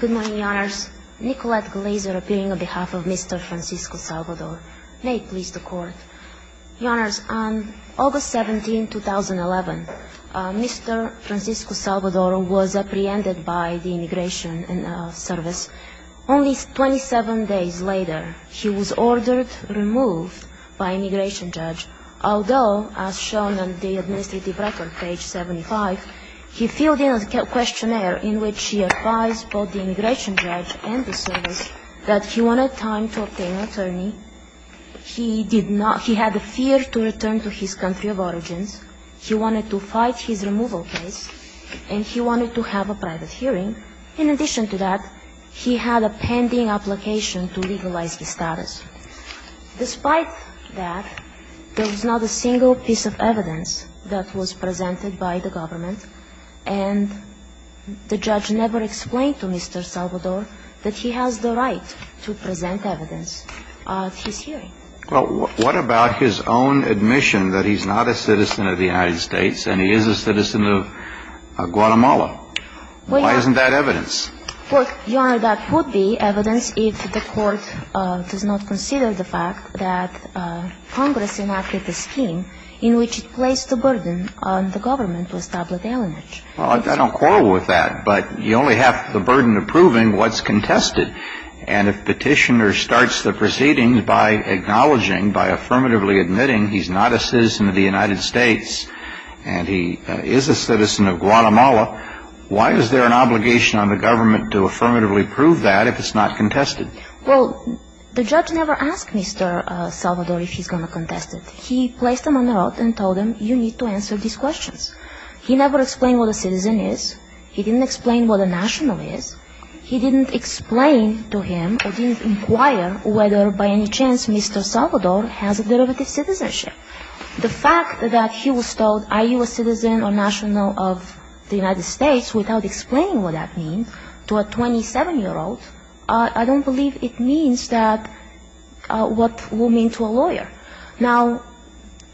Good morning, Your Honors. Nicolette Glazer appearing on behalf of Mr. Francisco-Salvador. May it please the Court. Your Honors, on August 17, 2011, Mr. Francisco-Salvador was apprehended by the Immigration Service. Only 27 days later, he was ordered removed by an immigration judge, although, as shown on the administrative record, page 75, he filled in a questionnaire in which he advised both the immigration judge and the service that he wanted time to obtain an attorney, he had a fear to return to his country of origins, he wanted to fight his removal case, and he wanted to have a private hearing. In addition to that, he had a pending application to legalize his status. Despite that, there was not a single piece of evidence that was presented by the government, and the judge never explained to Mr. Salvador that he has the right to present evidence at his hearing. Well, what about his own admission that he's not a citizen of the United States and he is a citizen of Guatemala? Why isn't that evidence? Well, Your Honor, that would be evidence if the Court does not consider the fact that Congress enacted a scheme in which it placed a burden on the government to establish alienage. Well, I don't quarrel with that, but you only have the burden of proving what's contested, and if Petitioner starts the proceedings by acknowledging, by affirmatively admitting he's not a citizen of the United States and he is a citizen of Guatemala, why is there an obligation on the government to affirmatively prove that if it's not contested? Well, the judge never asked Mr. Salvador if he's going to contest it. He placed him on the road and told him, you need to answer these questions. He never explained what a citizen is. He didn't explain what a national is. He didn't explain to him or didn't inquire whether by any chance Mr. Salvador has a derivative citizenship. The fact that he was told, are you a citizen or national of the United States, without explaining what that means to a 27-year-old, I don't believe it means that what it will mean to a lawyer. Now,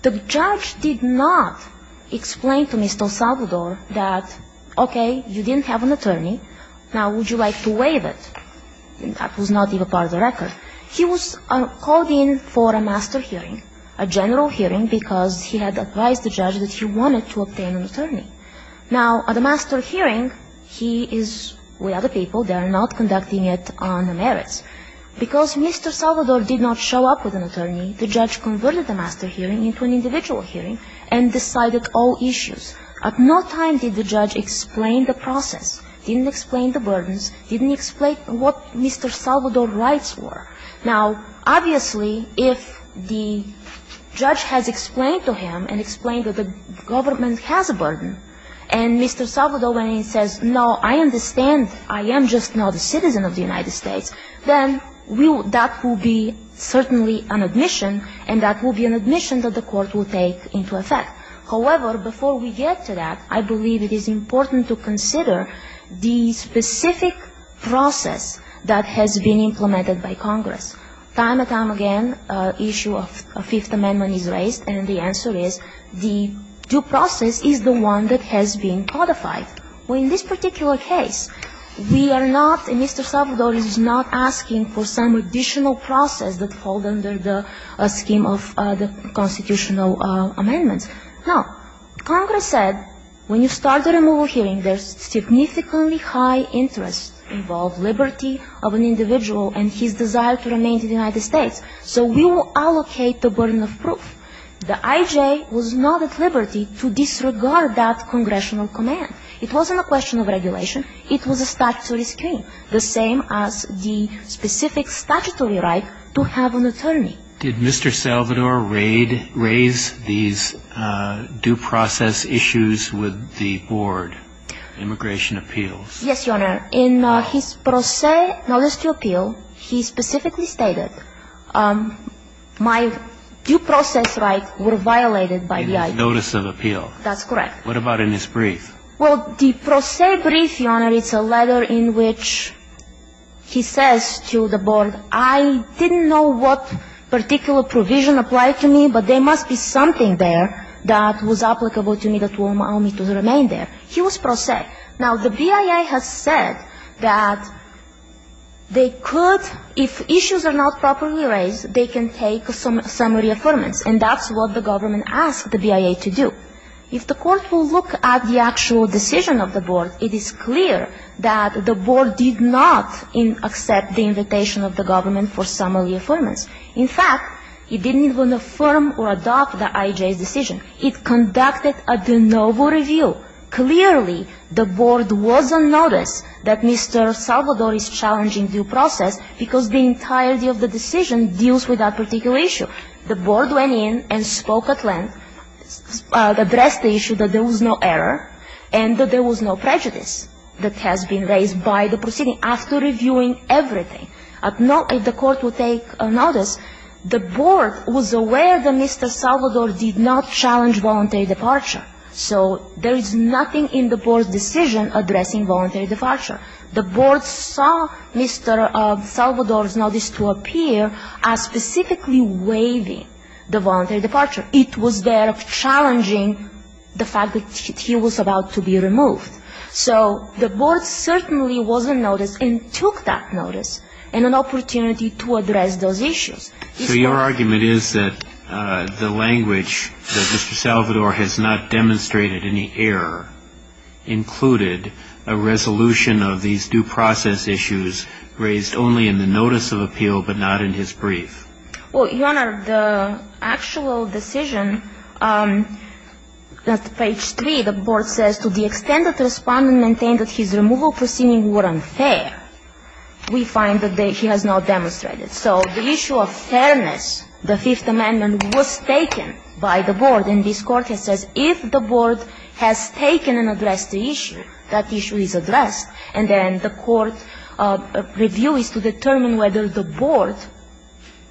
the judge did not explain to Mr. Salvador that, okay, you didn't have an attorney. Now, would you like to waive it? That was not even part of the record. He was called in for a master hearing, a general hearing, because he had advised the judge that he wanted to obtain an attorney. Now, at a master hearing, he is with other people. They are not conducting it on the merits. Because Mr. Salvador did not show up with an attorney, the judge converted the master hearing into an individual hearing and decided all issues. At no time did the judge explain the process, didn't explain the burdens, didn't explain what Mr. Salvador's rights were. Now, obviously, if the judge has explained to him and explained that the government has a burden, and Mr. Salvador, when he says, no, I understand, I am just not a citizen of the United States, then that will be certainly an admission, and that will be an admission that the court will take into effect. However, before we get to that, I believe it is important to consider the specific process that has been implemented by Congress. Time and time again, an issue of Fifth Amendment is raised, and the answer is the due process is the one that has been codified. In this particular case, we are not, and Mr. Salvador is not asking for some additional process that fall under the scheme of the constitutional amendments. Now, Congress said when you start a removal hearing, there's significantly high interest involved liberty of an individual and his desire to remain in the United States. So we will allocate the burden of proof. The IJ was not at liberty to disregard that congressional command. It wasn't a question of regulation. It was a statutory scheme, the same as the specific statutory right to have an attorney. Did Mr. Salvador raise these due process issues with the board, immigration appeals? Yes, Your Honor. In his pro se notice to appeal, he specifically stated my due process rights were violated by the IJ. In his notice of appeal. That's correct. What about in his brief? Well, the pro se brief, Your Honor, it's a letter in which he says to the board, I didn't know what particular provision applied to me, but there must be something there that was applicable to me that will allow me to remain there. He was pro se. Now, the BIA has said that they could, if issues are not properly raised, they can take some reaffirmance, and that's what the government asked the BIA to do. If the court will look at the actual decision of the board, it is clear that the board did not accept the invitation of the government for some of the affirmance. In fact, it didn't even affirm or adopt the IJ's decision. It conducted a de novo review. Clearly, the board was on notice that Mr. Salvador is challenging due process because the entirety of the decision deals with that particular issue. The board went in and spoke at length, addressed the issue that there was no error, and that there was no prejudice that has been raised by the proceeding after reviewing everything. If the court would take notice, the board was aware that Mr. Salvador did not challenge voluntary departure. So there is nothing in the board's decision addressing voluntary departure. The board saw Mr. Salvador's notice to appear as specifically waiving the voluntary departure. It was there of challenging the fact that he was about to be removed. So the board certainly was on notice and took that notice and an opportunity to address those issues. So your argument is that the language that Mr. Salvador has not demonstrated any error included a resolution of these due process issues raised only in the notice of appeal but not in his brief? Well, Your Honor, the actual decision at page 3, the board says to the extent that the respondent maintained that his removal proceedings were unfair, we find that he has not demonstrated. So the issue of fairness, the Fifth Amendment, was taken by the board. And this court has said if the board has taken and addressed the issue, that issue is addressed. And then the court's review is to determine whether the board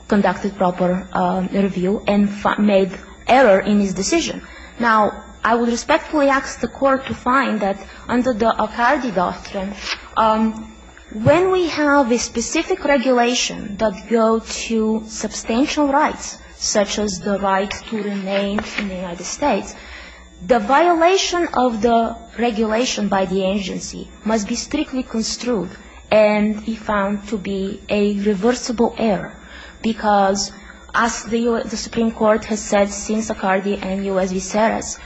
conducted proper review and made error in his decision. Now, I would respectfully ask the court to find that under the Acardi doctrine, when we have a specific regulation that go to substantial rights, such as the right to remain in the United States, the violation of the regulation by the agency must be strictly construed and be found to be a reversible error. Because as the Supreme Court has said since Acardi and U.S. v. Ceres,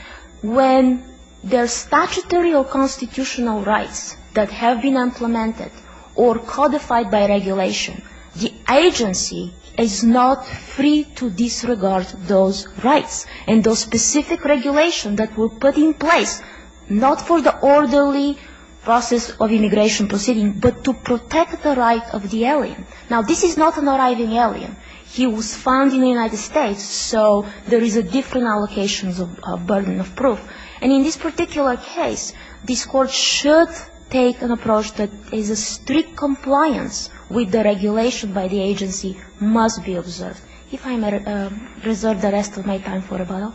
when there's statutory or constitutional rights that have been implemented or codified by regulation, the agency is not free to disregard those rights. And those specific regulations that were put in place, not for the orderly process of immigration proceeding, but to protect the right of the alien. Now, this is not an arriving alien. He was found in the United States, so there is a different allocation of burden of proof. And in this particular case, this court should take an approach that is a strict compliance with the regulation by the agency must be observed. If I may reserve the rest of my time for rebuttal.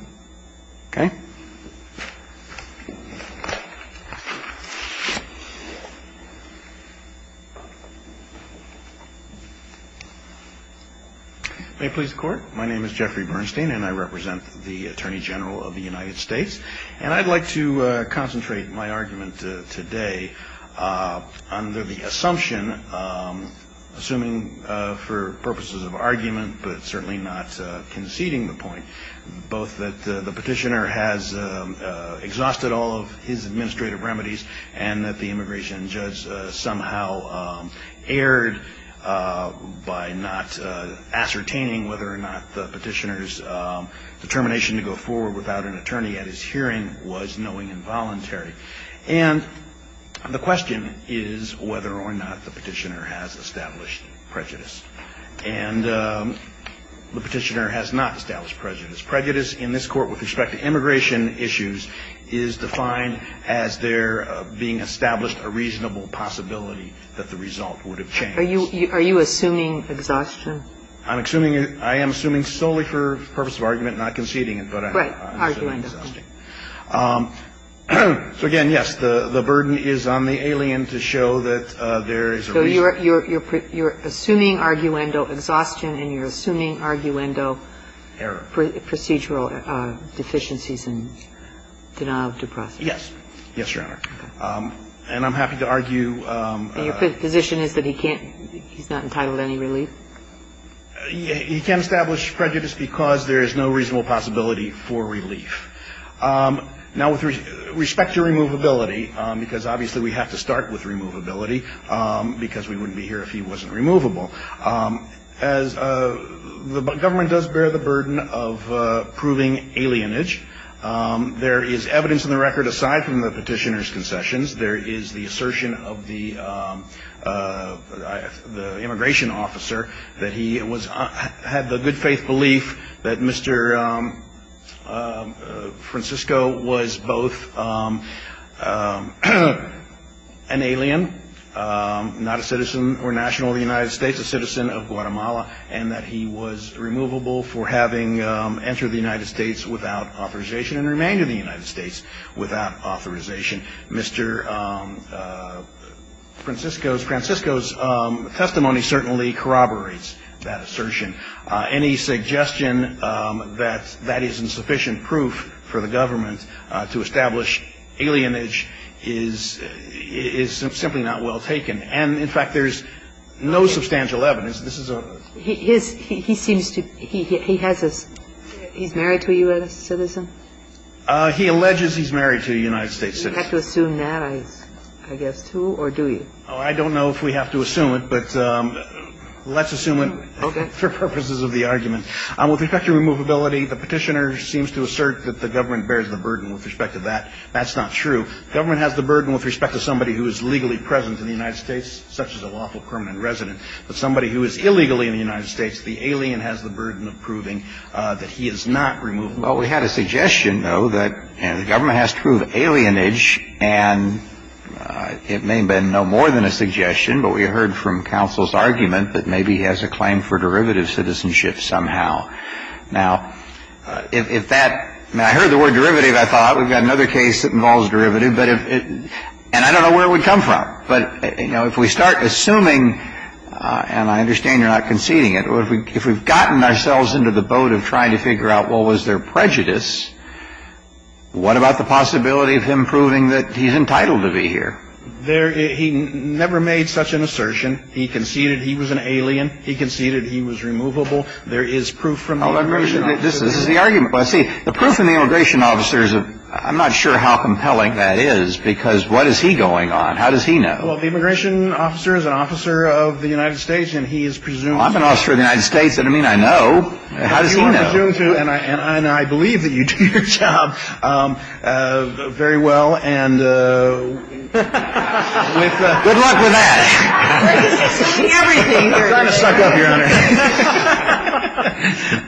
Okay. May it please the Court. My name is Jeffrey Bernstein, and I represent the Attorney General of the United States. And I'd like to concentrate my argument today under the assumption, assuming for purposes of argument, but certainly not conceding the point, both that the Petitioner has exhausted all of his administrative remedies, and that the immigration judge somehow erred by not ascertaining whether or not the hearing was knowing involuntary. And the question is whether or not the Petitioner has established prejudice. And the Petitioner has not established prejudice. Prejudice in this Court with respect to immigration issues is defined as there being established a reasonable possibility that the result would have changed. Are you assuming exhaustion? I'm assuming it – I am assuming solely for purpose of argument, not conceding it, but I'm assuming exhaustion. Right. Arguendo. So again, yes, the burden is on the alien to show that there is a reasonable possibility. So you're assuming arguendo exhaustion and you're assuming arguendo procedural deficiencies and denial of due process. Yes. Yes, Your Honor. And I'm happy to argue. And your position is that he can't – he's not entitled to any relief? He can't establish prejudice because there is no reasonable possibility for relief. Now, with respect to removability, because obviously we have to start with removability, because we wouldn't be here if he wasn't removable, as the government does bear the burden of proving alienage. There is evidence in the record aside from the Petitioner's concessions. There is the assertion of the immigration officer that he had the good faith belief that Mr. Francisco was both an alien, not a citizen or national of the United States, a citizen of Guatemala, and that he was removable for having entered the United States without authorization and remained in the United States without authorization. Mr. Francisco's – Francisco's testimony certainly corroborates that assertion. Any suggestion that that is insufficient proof for the government to establish alienage is – is simply not well taken. And, in fact, there's no substantial evidence. This is a – He seems to – he has a – he's married to a U.S. citizen? He alleges he's married to a United States citizen. You have to assume that, I guess, too, or do you? Oh, I don't know if we have to assume it, but let's assume it for purposes of the argument. With respect to removability, the Petitioner seems to assert that the government bears the burden with respect to that. That's not true. Government has the burden with respect to somebody who is legally present in the United States, such as a lawful permanent resident. But somebody who is illegally in the United States, the alien has the burden of proving that he is not removable. Well, we had a suggestion, though, that the government has to prove alienage, and it may have been no more than a suggestion, but we heard from counsel's argument that maybe he has a claim for derivative citizenship somehow. Now, if that – now, I heard the word derivative, I thought. We've got another case that involves derivative, but if – and I don't know where it would come from. But, you know, if we start assuming – and I understand you're not conceding it, but if we've gotten ourselves into the boat of trying to figure out what was their prejudice, what about the possibility of him proving that he's entitled to be here? There – he never made such an assertion. He conceded he was an alien. He conceded he was removable. There is proof from the immigration officer. This is the argument. But, see, the proof from the immigration officer is – I'm not sure how compelling that is, because what is he going on? How does he know? Well, the immigration officer is an officer of the United States, and he is presumed I'm an officer of the United States. That doesn't mean I know. How does he know? He's presumed to, and I believe that you do your job very well, and with – Good luck with that. I'm trying to suck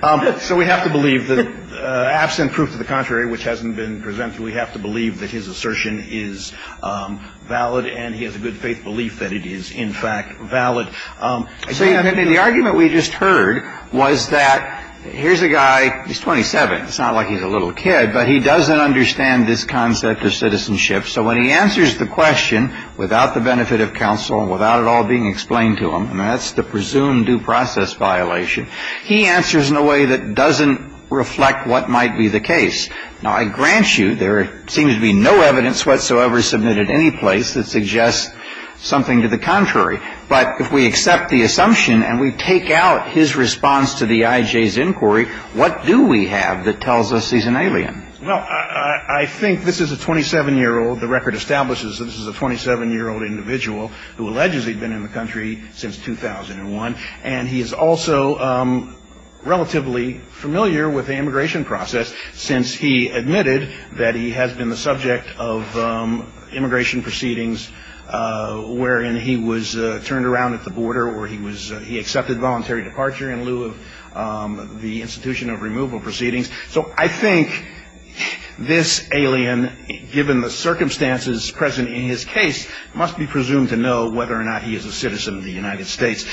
up, Your Honor. So we have to believe that absent proof to the contrary, which hasn't been presented, we have to believe that his assertion is valid, and he has a good faith belief that it is, in fact, valid. So the argument we just heard was that here's a guy, he's 27. It's not like he's a little kid, but he doesn't understand this concept of citizenship. So when he answers the question without the benefit of counsel, without it all being explained to him, and that's the presumed due process violation, he answers in a way that doesn't reflect what might be the case. Now, I grant you there seems to be no evidence whatsoever submitted anyplace that suggests something to the contrary. But if we accept the assumption and we take out his response to the IJ's inquiry, what do we have that tells us he's an alien? Well, I think this is a 27-year-old – the record establishes that this is a 27-year-old individual who alleges he's been in the country since 2001, and he is also relatively familiar with the immigration process since he admitted that he has been the subject of immigration proceedings wherein he was turned around at the border or he was – he accepted voluntary departure in lieu of the institution of removal proceedings. So I think this alien, given the circumstances present in his case, must be presumed to know whether or not he is a citizen of the United States.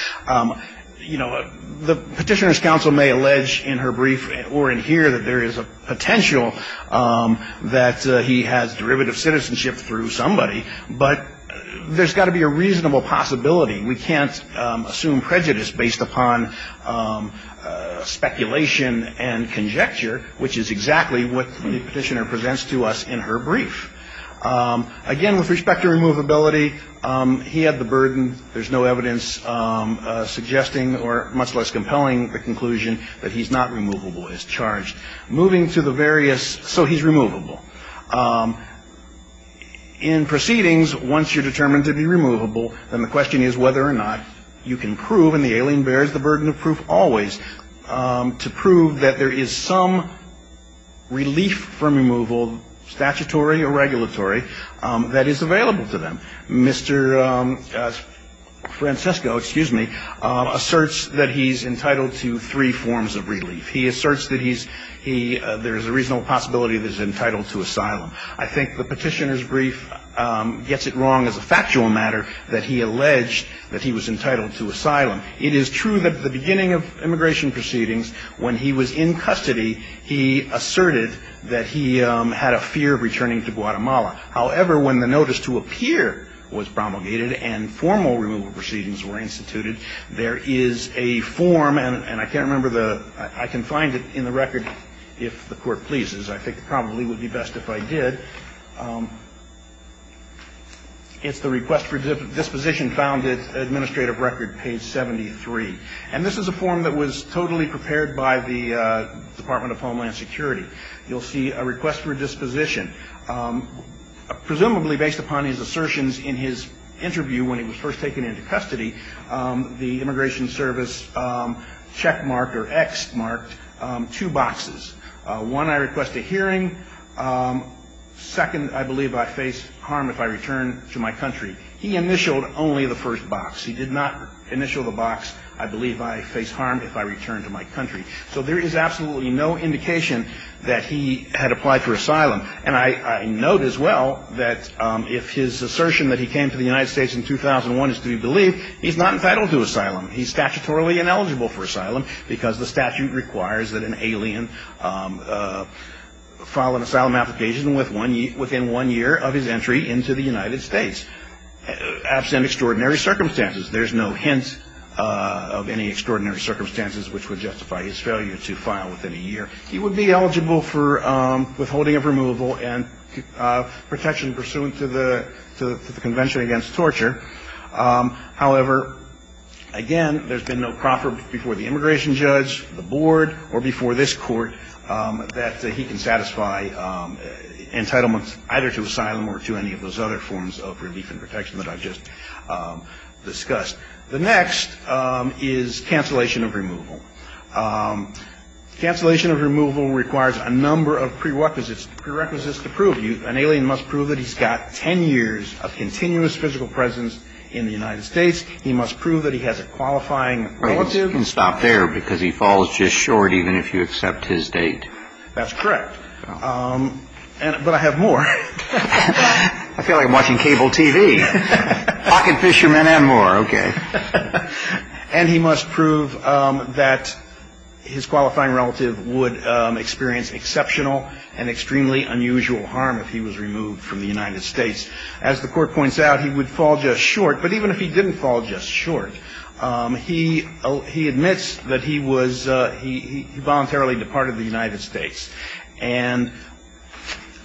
You know, the petitioner's counsel may allege in her brief or in here that there is a through somebody, but there's got to be a reasonable possibility. We can't assume prejudice based upon speculation and conjecture, which is exactly what the petitioner presents to us in her brief. Again, with respect to removability, he had the burden. There's no evidence suggesting or much less compelling the conclusion that he's not removable as charged. Moving to the various – so he's removable. In proceedings, once you're determined to be removable, then the question is whether or not you can prove, and the alien bears the burden of proof always, to prove that there is some relief from removal, statutory or regulatory, that is available to them. Mr. Francisco, excuse me, asserts that he's entitled to three forms of relief. He asserts that he's – there's a reasonable possibility that he's entitled to asylum. I think the petitioner's brief gets it wrong as a factual matter that he alleged that he was entitled to asylum. It is true that at the beginning of immigration proceedings, when he was in custody, he asserted that he had a fear of returning to Guatemala. However, when the notice to appear was promulgated and formal removal proceedings were instituted, there is a form, and I can't remember the – I can find it in the record if the Court pleases. I think it probably would be best if I did. It's the Request for Disposition Found in Administrative Record, page 73. And this is a form that was totally prepared by the Department of Homeland Security. You'll see a Request for Disposition. Presumably based upon his assertions in his interview when he was first taken into custody, the Immigration Service checkmarked or ex-marked two boxes. One, I request a hearing. Second, I believe I face harm if I return to my country. He initialed only the first box. He did not initial the box, I believe I face harm if I return to my country. So there is absolutely no indication that he had applied for asylum. And I note as well that if his assertion that he came to the United States in 2001 is to be believed, he's not entitled to asylum. He's statutorily ineligible for asylum because the statute requires that an alien file an asylum application within one year of his entry into the United States, absent extraordinary circumstances. There's no hint of any extraordinary circumstances which would justify his failure to file within a year. He would be eligible for withholding of removal and protection pursuant to the Convention Against Torture. However, again, there's been no proffer before the immigration judge, the board, or before this Court that he can satisfy entitlements either to asylum or to any of those other forms of relief and protection that I've just discussed. The next is cancellation of removal. Cancellation of removal requires a number of prerequisites to prove. An alien must prove that he's got 10 years of continuous physical presence in the United States. He must prove that he has a qualifying relative. He can stop there because he falls just short even if you accept his date. That's correct. But I have more. I feel like I'm watching cable TV. Pocket fishermen and more. Okay. And he must prove that his qualifying relative would experience exceptional and extremely unusual harm if he was removed from the United States. As the Court points out, he would fall just short. But even if he didn't fall just short, he admits that he was he voluntarily departed the United States. And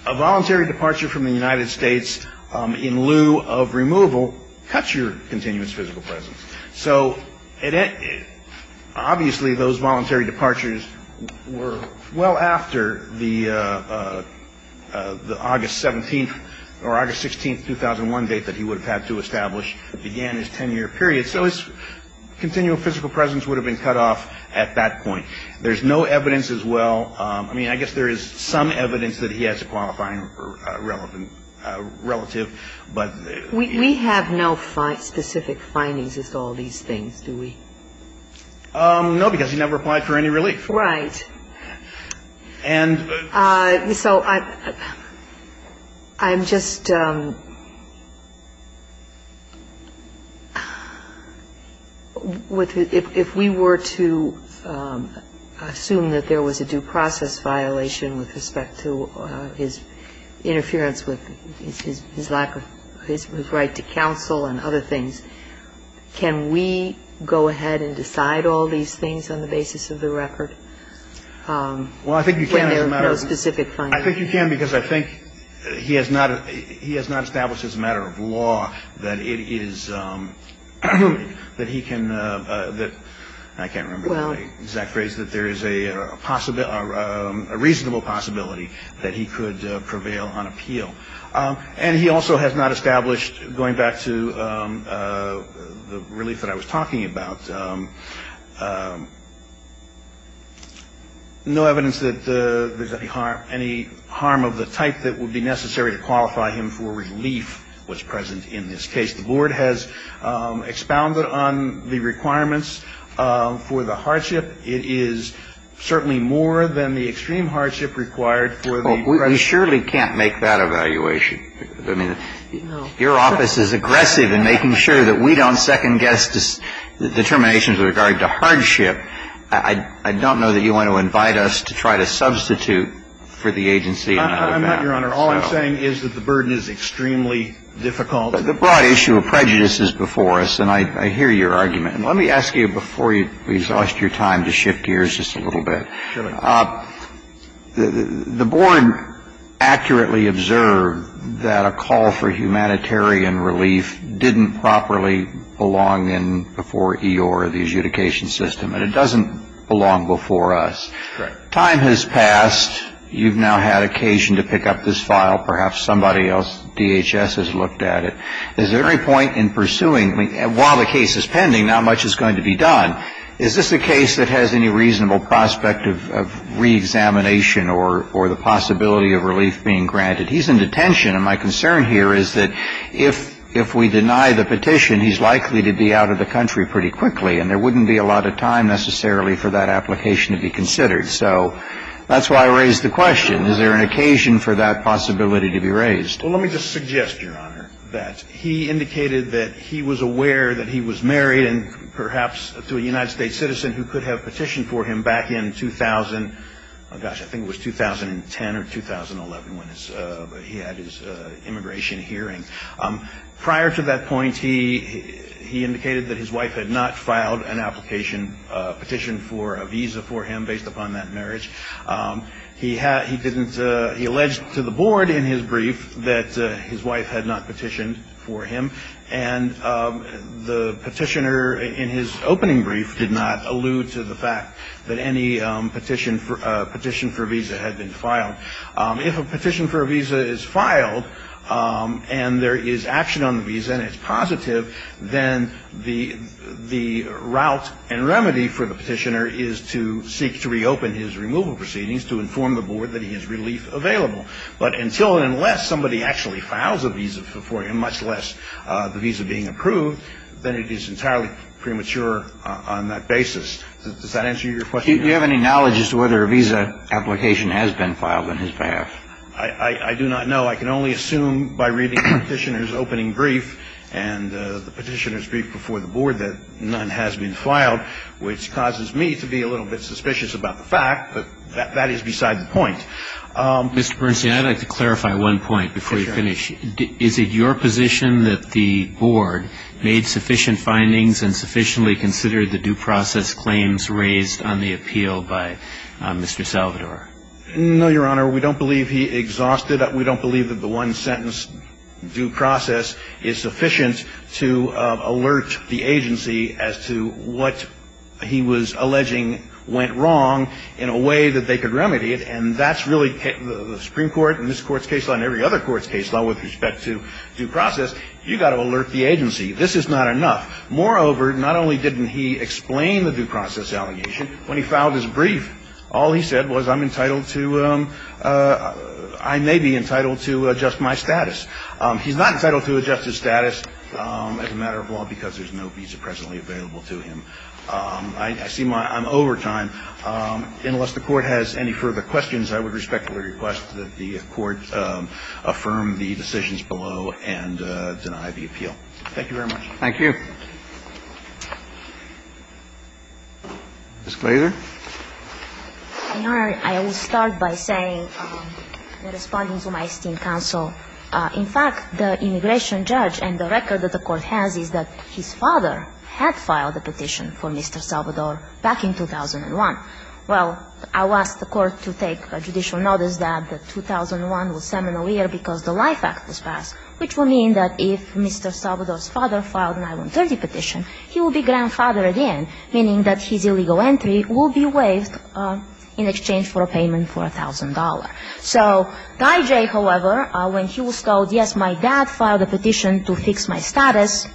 a voluntary departure from the United States in lieu of removal cuts your continuous physical presence. So obviously those voluntary departures were well after the August 17th or August 16th, 2001 date that he would have had to establish began his 10-year period. So his continual physical presence would have been cut off at that point. There's no evidence as well. I mean, I guess there is some evidence that he has a qualifying relative, but. We have no specific findings as to all these things, do we? No, because he never applied for any relief. Right. And so I'm just, if we were to assume that there was a due process violation with respect to his interference with his lack of his right to counsel and other things, can we go ahead and decide all these things on the basis of the record? Well, I think you can as a matter of. No specific findings. I think you can because I think he has not established as a matter of law that it is, that he can, I can't remember the exact phrase, that there is a reasonable possibility that he could prevail on appeal. And he also has not established, going back to the relief that I was talking about, no evidence that there's any harm, any harm of the type that would be necessary to qualify him for relief was present in this case. The Board has expounded on the requirements for the hardship. It is certainly more than the extreme hardship required for the. Well, we surely can't make that evaluation. I mean, your office is aggressive in making sure that we don't second-guess determinations with regard to hardship. I don't know that you want to invite us to try to substitute for the agency in that way. I'm not, Your Honor. All I'm saying is that the burden is extremely difficult. The broad issue of prejudice is before us, and I hear your argument. And let me ask you before you exhaust your time to shift gears just a little bit. Sure. The Board accurately observed that a call for humanitarian relief didn't properly belong in before E.O.R., the adjudication system, and it doesn't belong before us. Right. Time has passed. You've now had occasion to pick up this file. Perhaps somebody else, DHS, has looked at it. Is there any point in pursuing? While the case is pending, not much is going to be done. Is this a case that has any reasonable prospect of reexamination or the possibility of relief being granted? He's in detention. My concern here is that if we deny the petition, he's likely to be out of the country pretty quickly, and there wouldn't be a lot of time necessarily for that application to be considered. So that's why I raised the question. Is there an occasion for that possibility to be raised? Well, let me just suggest, Your Honor, that he indicated that he was aware that he was married and perhaps to a United States citizen who could have petitioned for him back in gosh, I think it was 2010 or 2011 when he had his immigration hearing. Prior to that point, he indicated that his wife had not filed an application, petitioned for a visa for him based upon that marriage. He alleged to the board in his brief that his wife had not petitioned for him, and the petition for a visa had been filed. If a petition for a visa is filed and there is action on the visa and it's positive, then the route and remedy for the petitioner is to seek to reopen his removal proceedings to inform the board that he has relief available. But until and unless somebody actually files a visa for him, much less the visa being approved, then it is entirely premature on that basis. Does that answer your question? Do you have any knowledge as to whether a visa application has been filed on his behalf? I do not know. I can only assume by reading the petitioner's opening brief and the petitioner's brief before the board that none has been filed, which causes me to be a little bit suspicious about the fact, but that is beside the point. Mr. Bernstein, I'd like to clarify one point before you finish. Is it your position that the board made sufficient findings and sufficiently considered the due process claims raised on the appeal by Mr. Salvador? No, Your Honor. We don't believe he exhausted it. We don't believe that the one-sentence due process is sufficient to alert the agency as to what he was alleging went wrong in a way that they could remedy it, and that's really the Supreme Court and this Court's case law and every other court's case law with respect to due process. You've got to alert the agency. This is not enough. Moreover, not only didn't he explain the due process allegation, when he filed his brief, all he said was I'm entitled to – I may be entitled to adjust my status. He's not entitled to adjust his status as a matter of law because there's no visa presently available to him. I see my – I'm over time. Unless the Court has any further questions, I would respectfully request that the Court affirm the decisions below and deny the appeal. Thank you very much. Thank you. Ms. Glaser. Your Honor, I will start by saying, responding to my esteemed counsel, in fact, the immigration judge and the record that the Court has is that his father had filed a petition for Mr. Salvador back in 2001. Well, I'll ask the Court to take judicial notice that 2001 was seminal year because the Life Act was passed, which will mean that if Mr. Salvador's father filed an I-130 petition, he will be grandfathered in, meaning that his illegal entry will be waived in exchange for a payment for $1,000. So Guy J., however, when he was told, yes, my dad filed a petition to fix my status,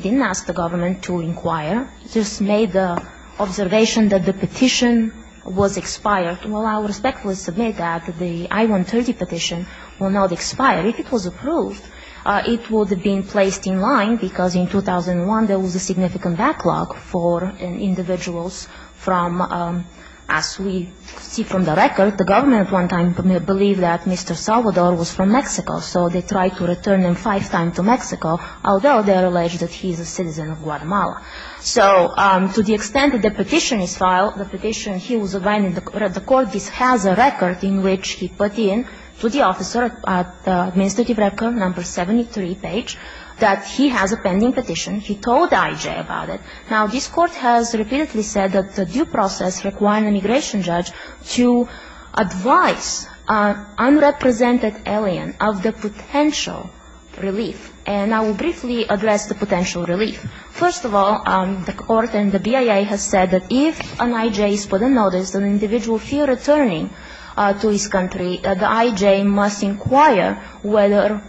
didn't ask the government to inquire, just made the observation that the petition was expired. Well, I will respectfully submit that the I-130 petition will not expire. If it was approved, it would have been placed in line because in 2001 there was a significant backlog for individuals from, as we see from the record, the government at one time believed that Mr. Salvador was from Mexico, so they tried to return him five times to Mexico, although they are alleged that he is a citizen of Guatemala. So to the extent that the petition is filed, the petition he was abiding, the Court has a record in which he put in to the officer, administrative record number 73 page, that he has a pending petition. He told Guy J. about it. Now, this Court has repeatedly said that the due process requires an immigration judge to advise an unrepresented alien of the potential relief. And I will briefly address the potential relief. First of all, the Court and the BIA has said that if an I.J. is put on notice, an individual fear returning to his country, the I.J. must inquire whether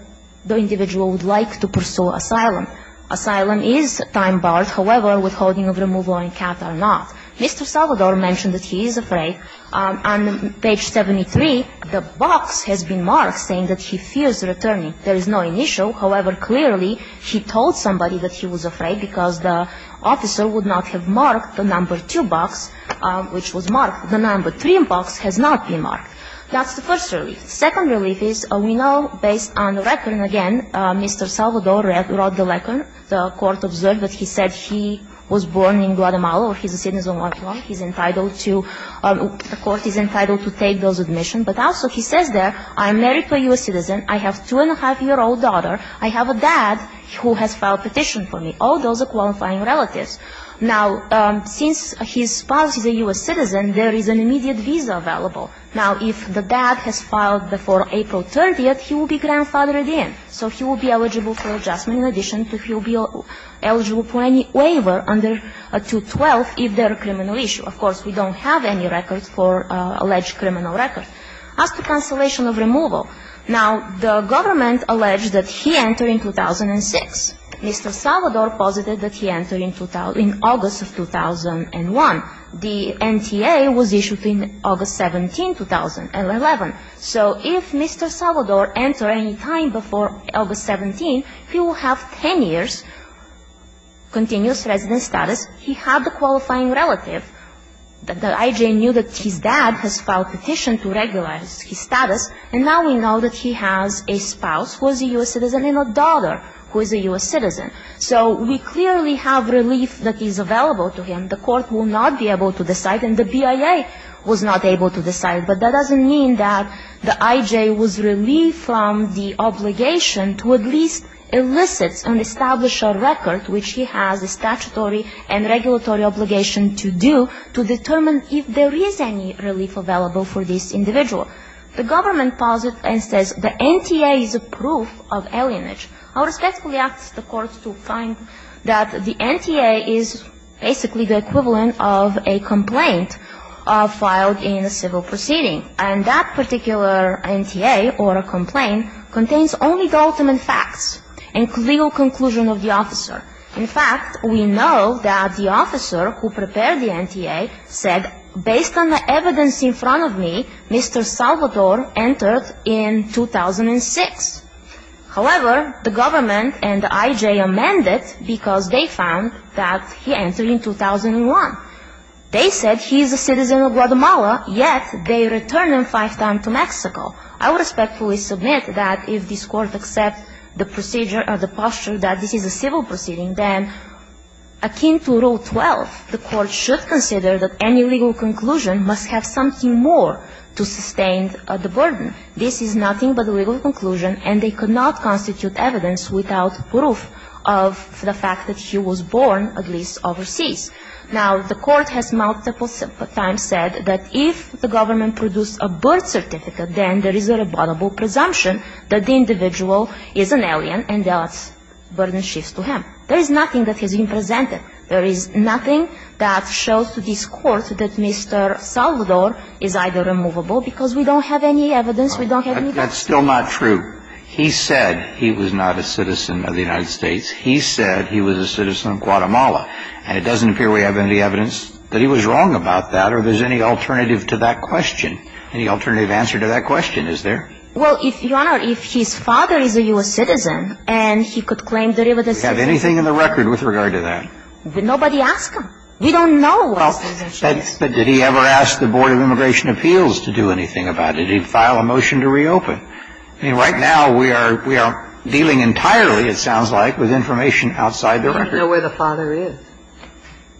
the individual would like to pursue asylum. Asylum is time-barred. However, withholding of removal and capture are not. Mr. Salvador mentioned that he is afraid. On page 73, the box has been marked saying that he fears returning. There is no initial. However, clearly, he told somebody that he was afraid because the officer would not have marked the number 2 box, which was marked. The number 3 box has not been marked. That's the first relief. The second relief is, we know, based on the record, again, Mr. Salvador wrote the record. The Court observed that he said he was born in Guatemala or he's a citizen of Guatemala. He's entitled to the Court is entitled to take those admission. But also, he says there, I am married to a U.S. citizen. I have a two-and-a-half-year-old daughter. I have a dad who has filed a petition for me. All those are qualifying relatives. Now, since his spouse is a U.S. citizen, there is an immediate visa available. Now, if the dad has filed before April 30th, he will be grandfathered in. So he will be eligible for adjustment. In addition, he will be eligible for any waiver under 212 if there are criminal issues. Of course, we don't have any records for alleged criminal records. As to cancellation of removal. Now, the government alleged that he entered in 2006. Mr. Salvador posited that he entered in August of 2001. The NTA was issued in August 17, 2011. So if Mr. Salvador entered any time before August 17, he will have 10 years continuous resident status. He had a qualifying relative. The IJ knew that his dad has filed a petition to regularize his status. And now we know that he has a spouse who is a U.S. citizen and a daughter who is a U.S. citizen. So we clearly have relief that is available to him. The court will not be able to decide and the BIA was not able to decide. But that doesn't mean that the IJ was relieved from the obligation to at least elicit and establish a record, which he has a statutory and regulatory obligation to do, to determine if there is any relief available for this individual. The government posited and says the NTA is a proof of alienage. I respectfully ask the court to find that the NTA is basically the equivalent of a complaint filed in a civil proceeding. And that particular NTA or a complaint contains only the ultimate facts and legal conclusion of the officer. In fact, we know that the officer who prepared the NTA said, based on the evidence in front of me, Mr. Salvador entered in 2006. However, the government and the IJ amended because they found that he entered in 2001. They said he is a citizen of Guatemala, yet they returned him five times to Mexico. I respectfully submit that if this court accepts the procedure or the posture that this is a civil proceeding, then akin to Rule 12, the court should consider that any legal conclusion must have something more to sustain the burden. This is nothing but a legal conclusion and they could not constitute evidence without proof of the fact that he was born, at least overseas. Now, the court has multiple times said that if the government produced a birth certificate, then there is a rebuttable presumption that the individual is an alien and thus burden shifts to him. There is nothing that has been presented. There is nothing that shows to this court that Mr. Salvador is either removable because we don't have any evidence. We don't have any evidence. That's still not true. He said he was not a citizen of the United States. He said he was a citizen of Guatemala. And it doesn't appear we have any evidence that he was wrong about that or there's any alternative to that question. Any alternative answer to that question, is there? Well, if, Your Honor, if his father is a U.S. citizen and he could claim that he was a citizen. Do we have anything in the record with regard to that? Nobody asked him. We don't know. But did he ever ask the Board of Immigration Appeals to do anything about it? Did he file a motion to reopen? I mean, right now we are dealing entirely, it sounds like, with information outside the record. We don't know where the father is.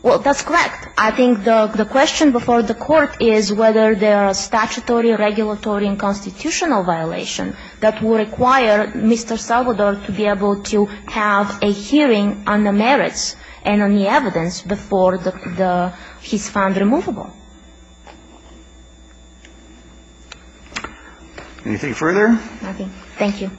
Well, that's correct. I think the question before the Court is whether there are statutory, regulatory, and constitutional violations that would require Mr. Salvador to be able to have a hearing on the merits and on the evidence before he's found removable. Anything further? Nothing. Thank you.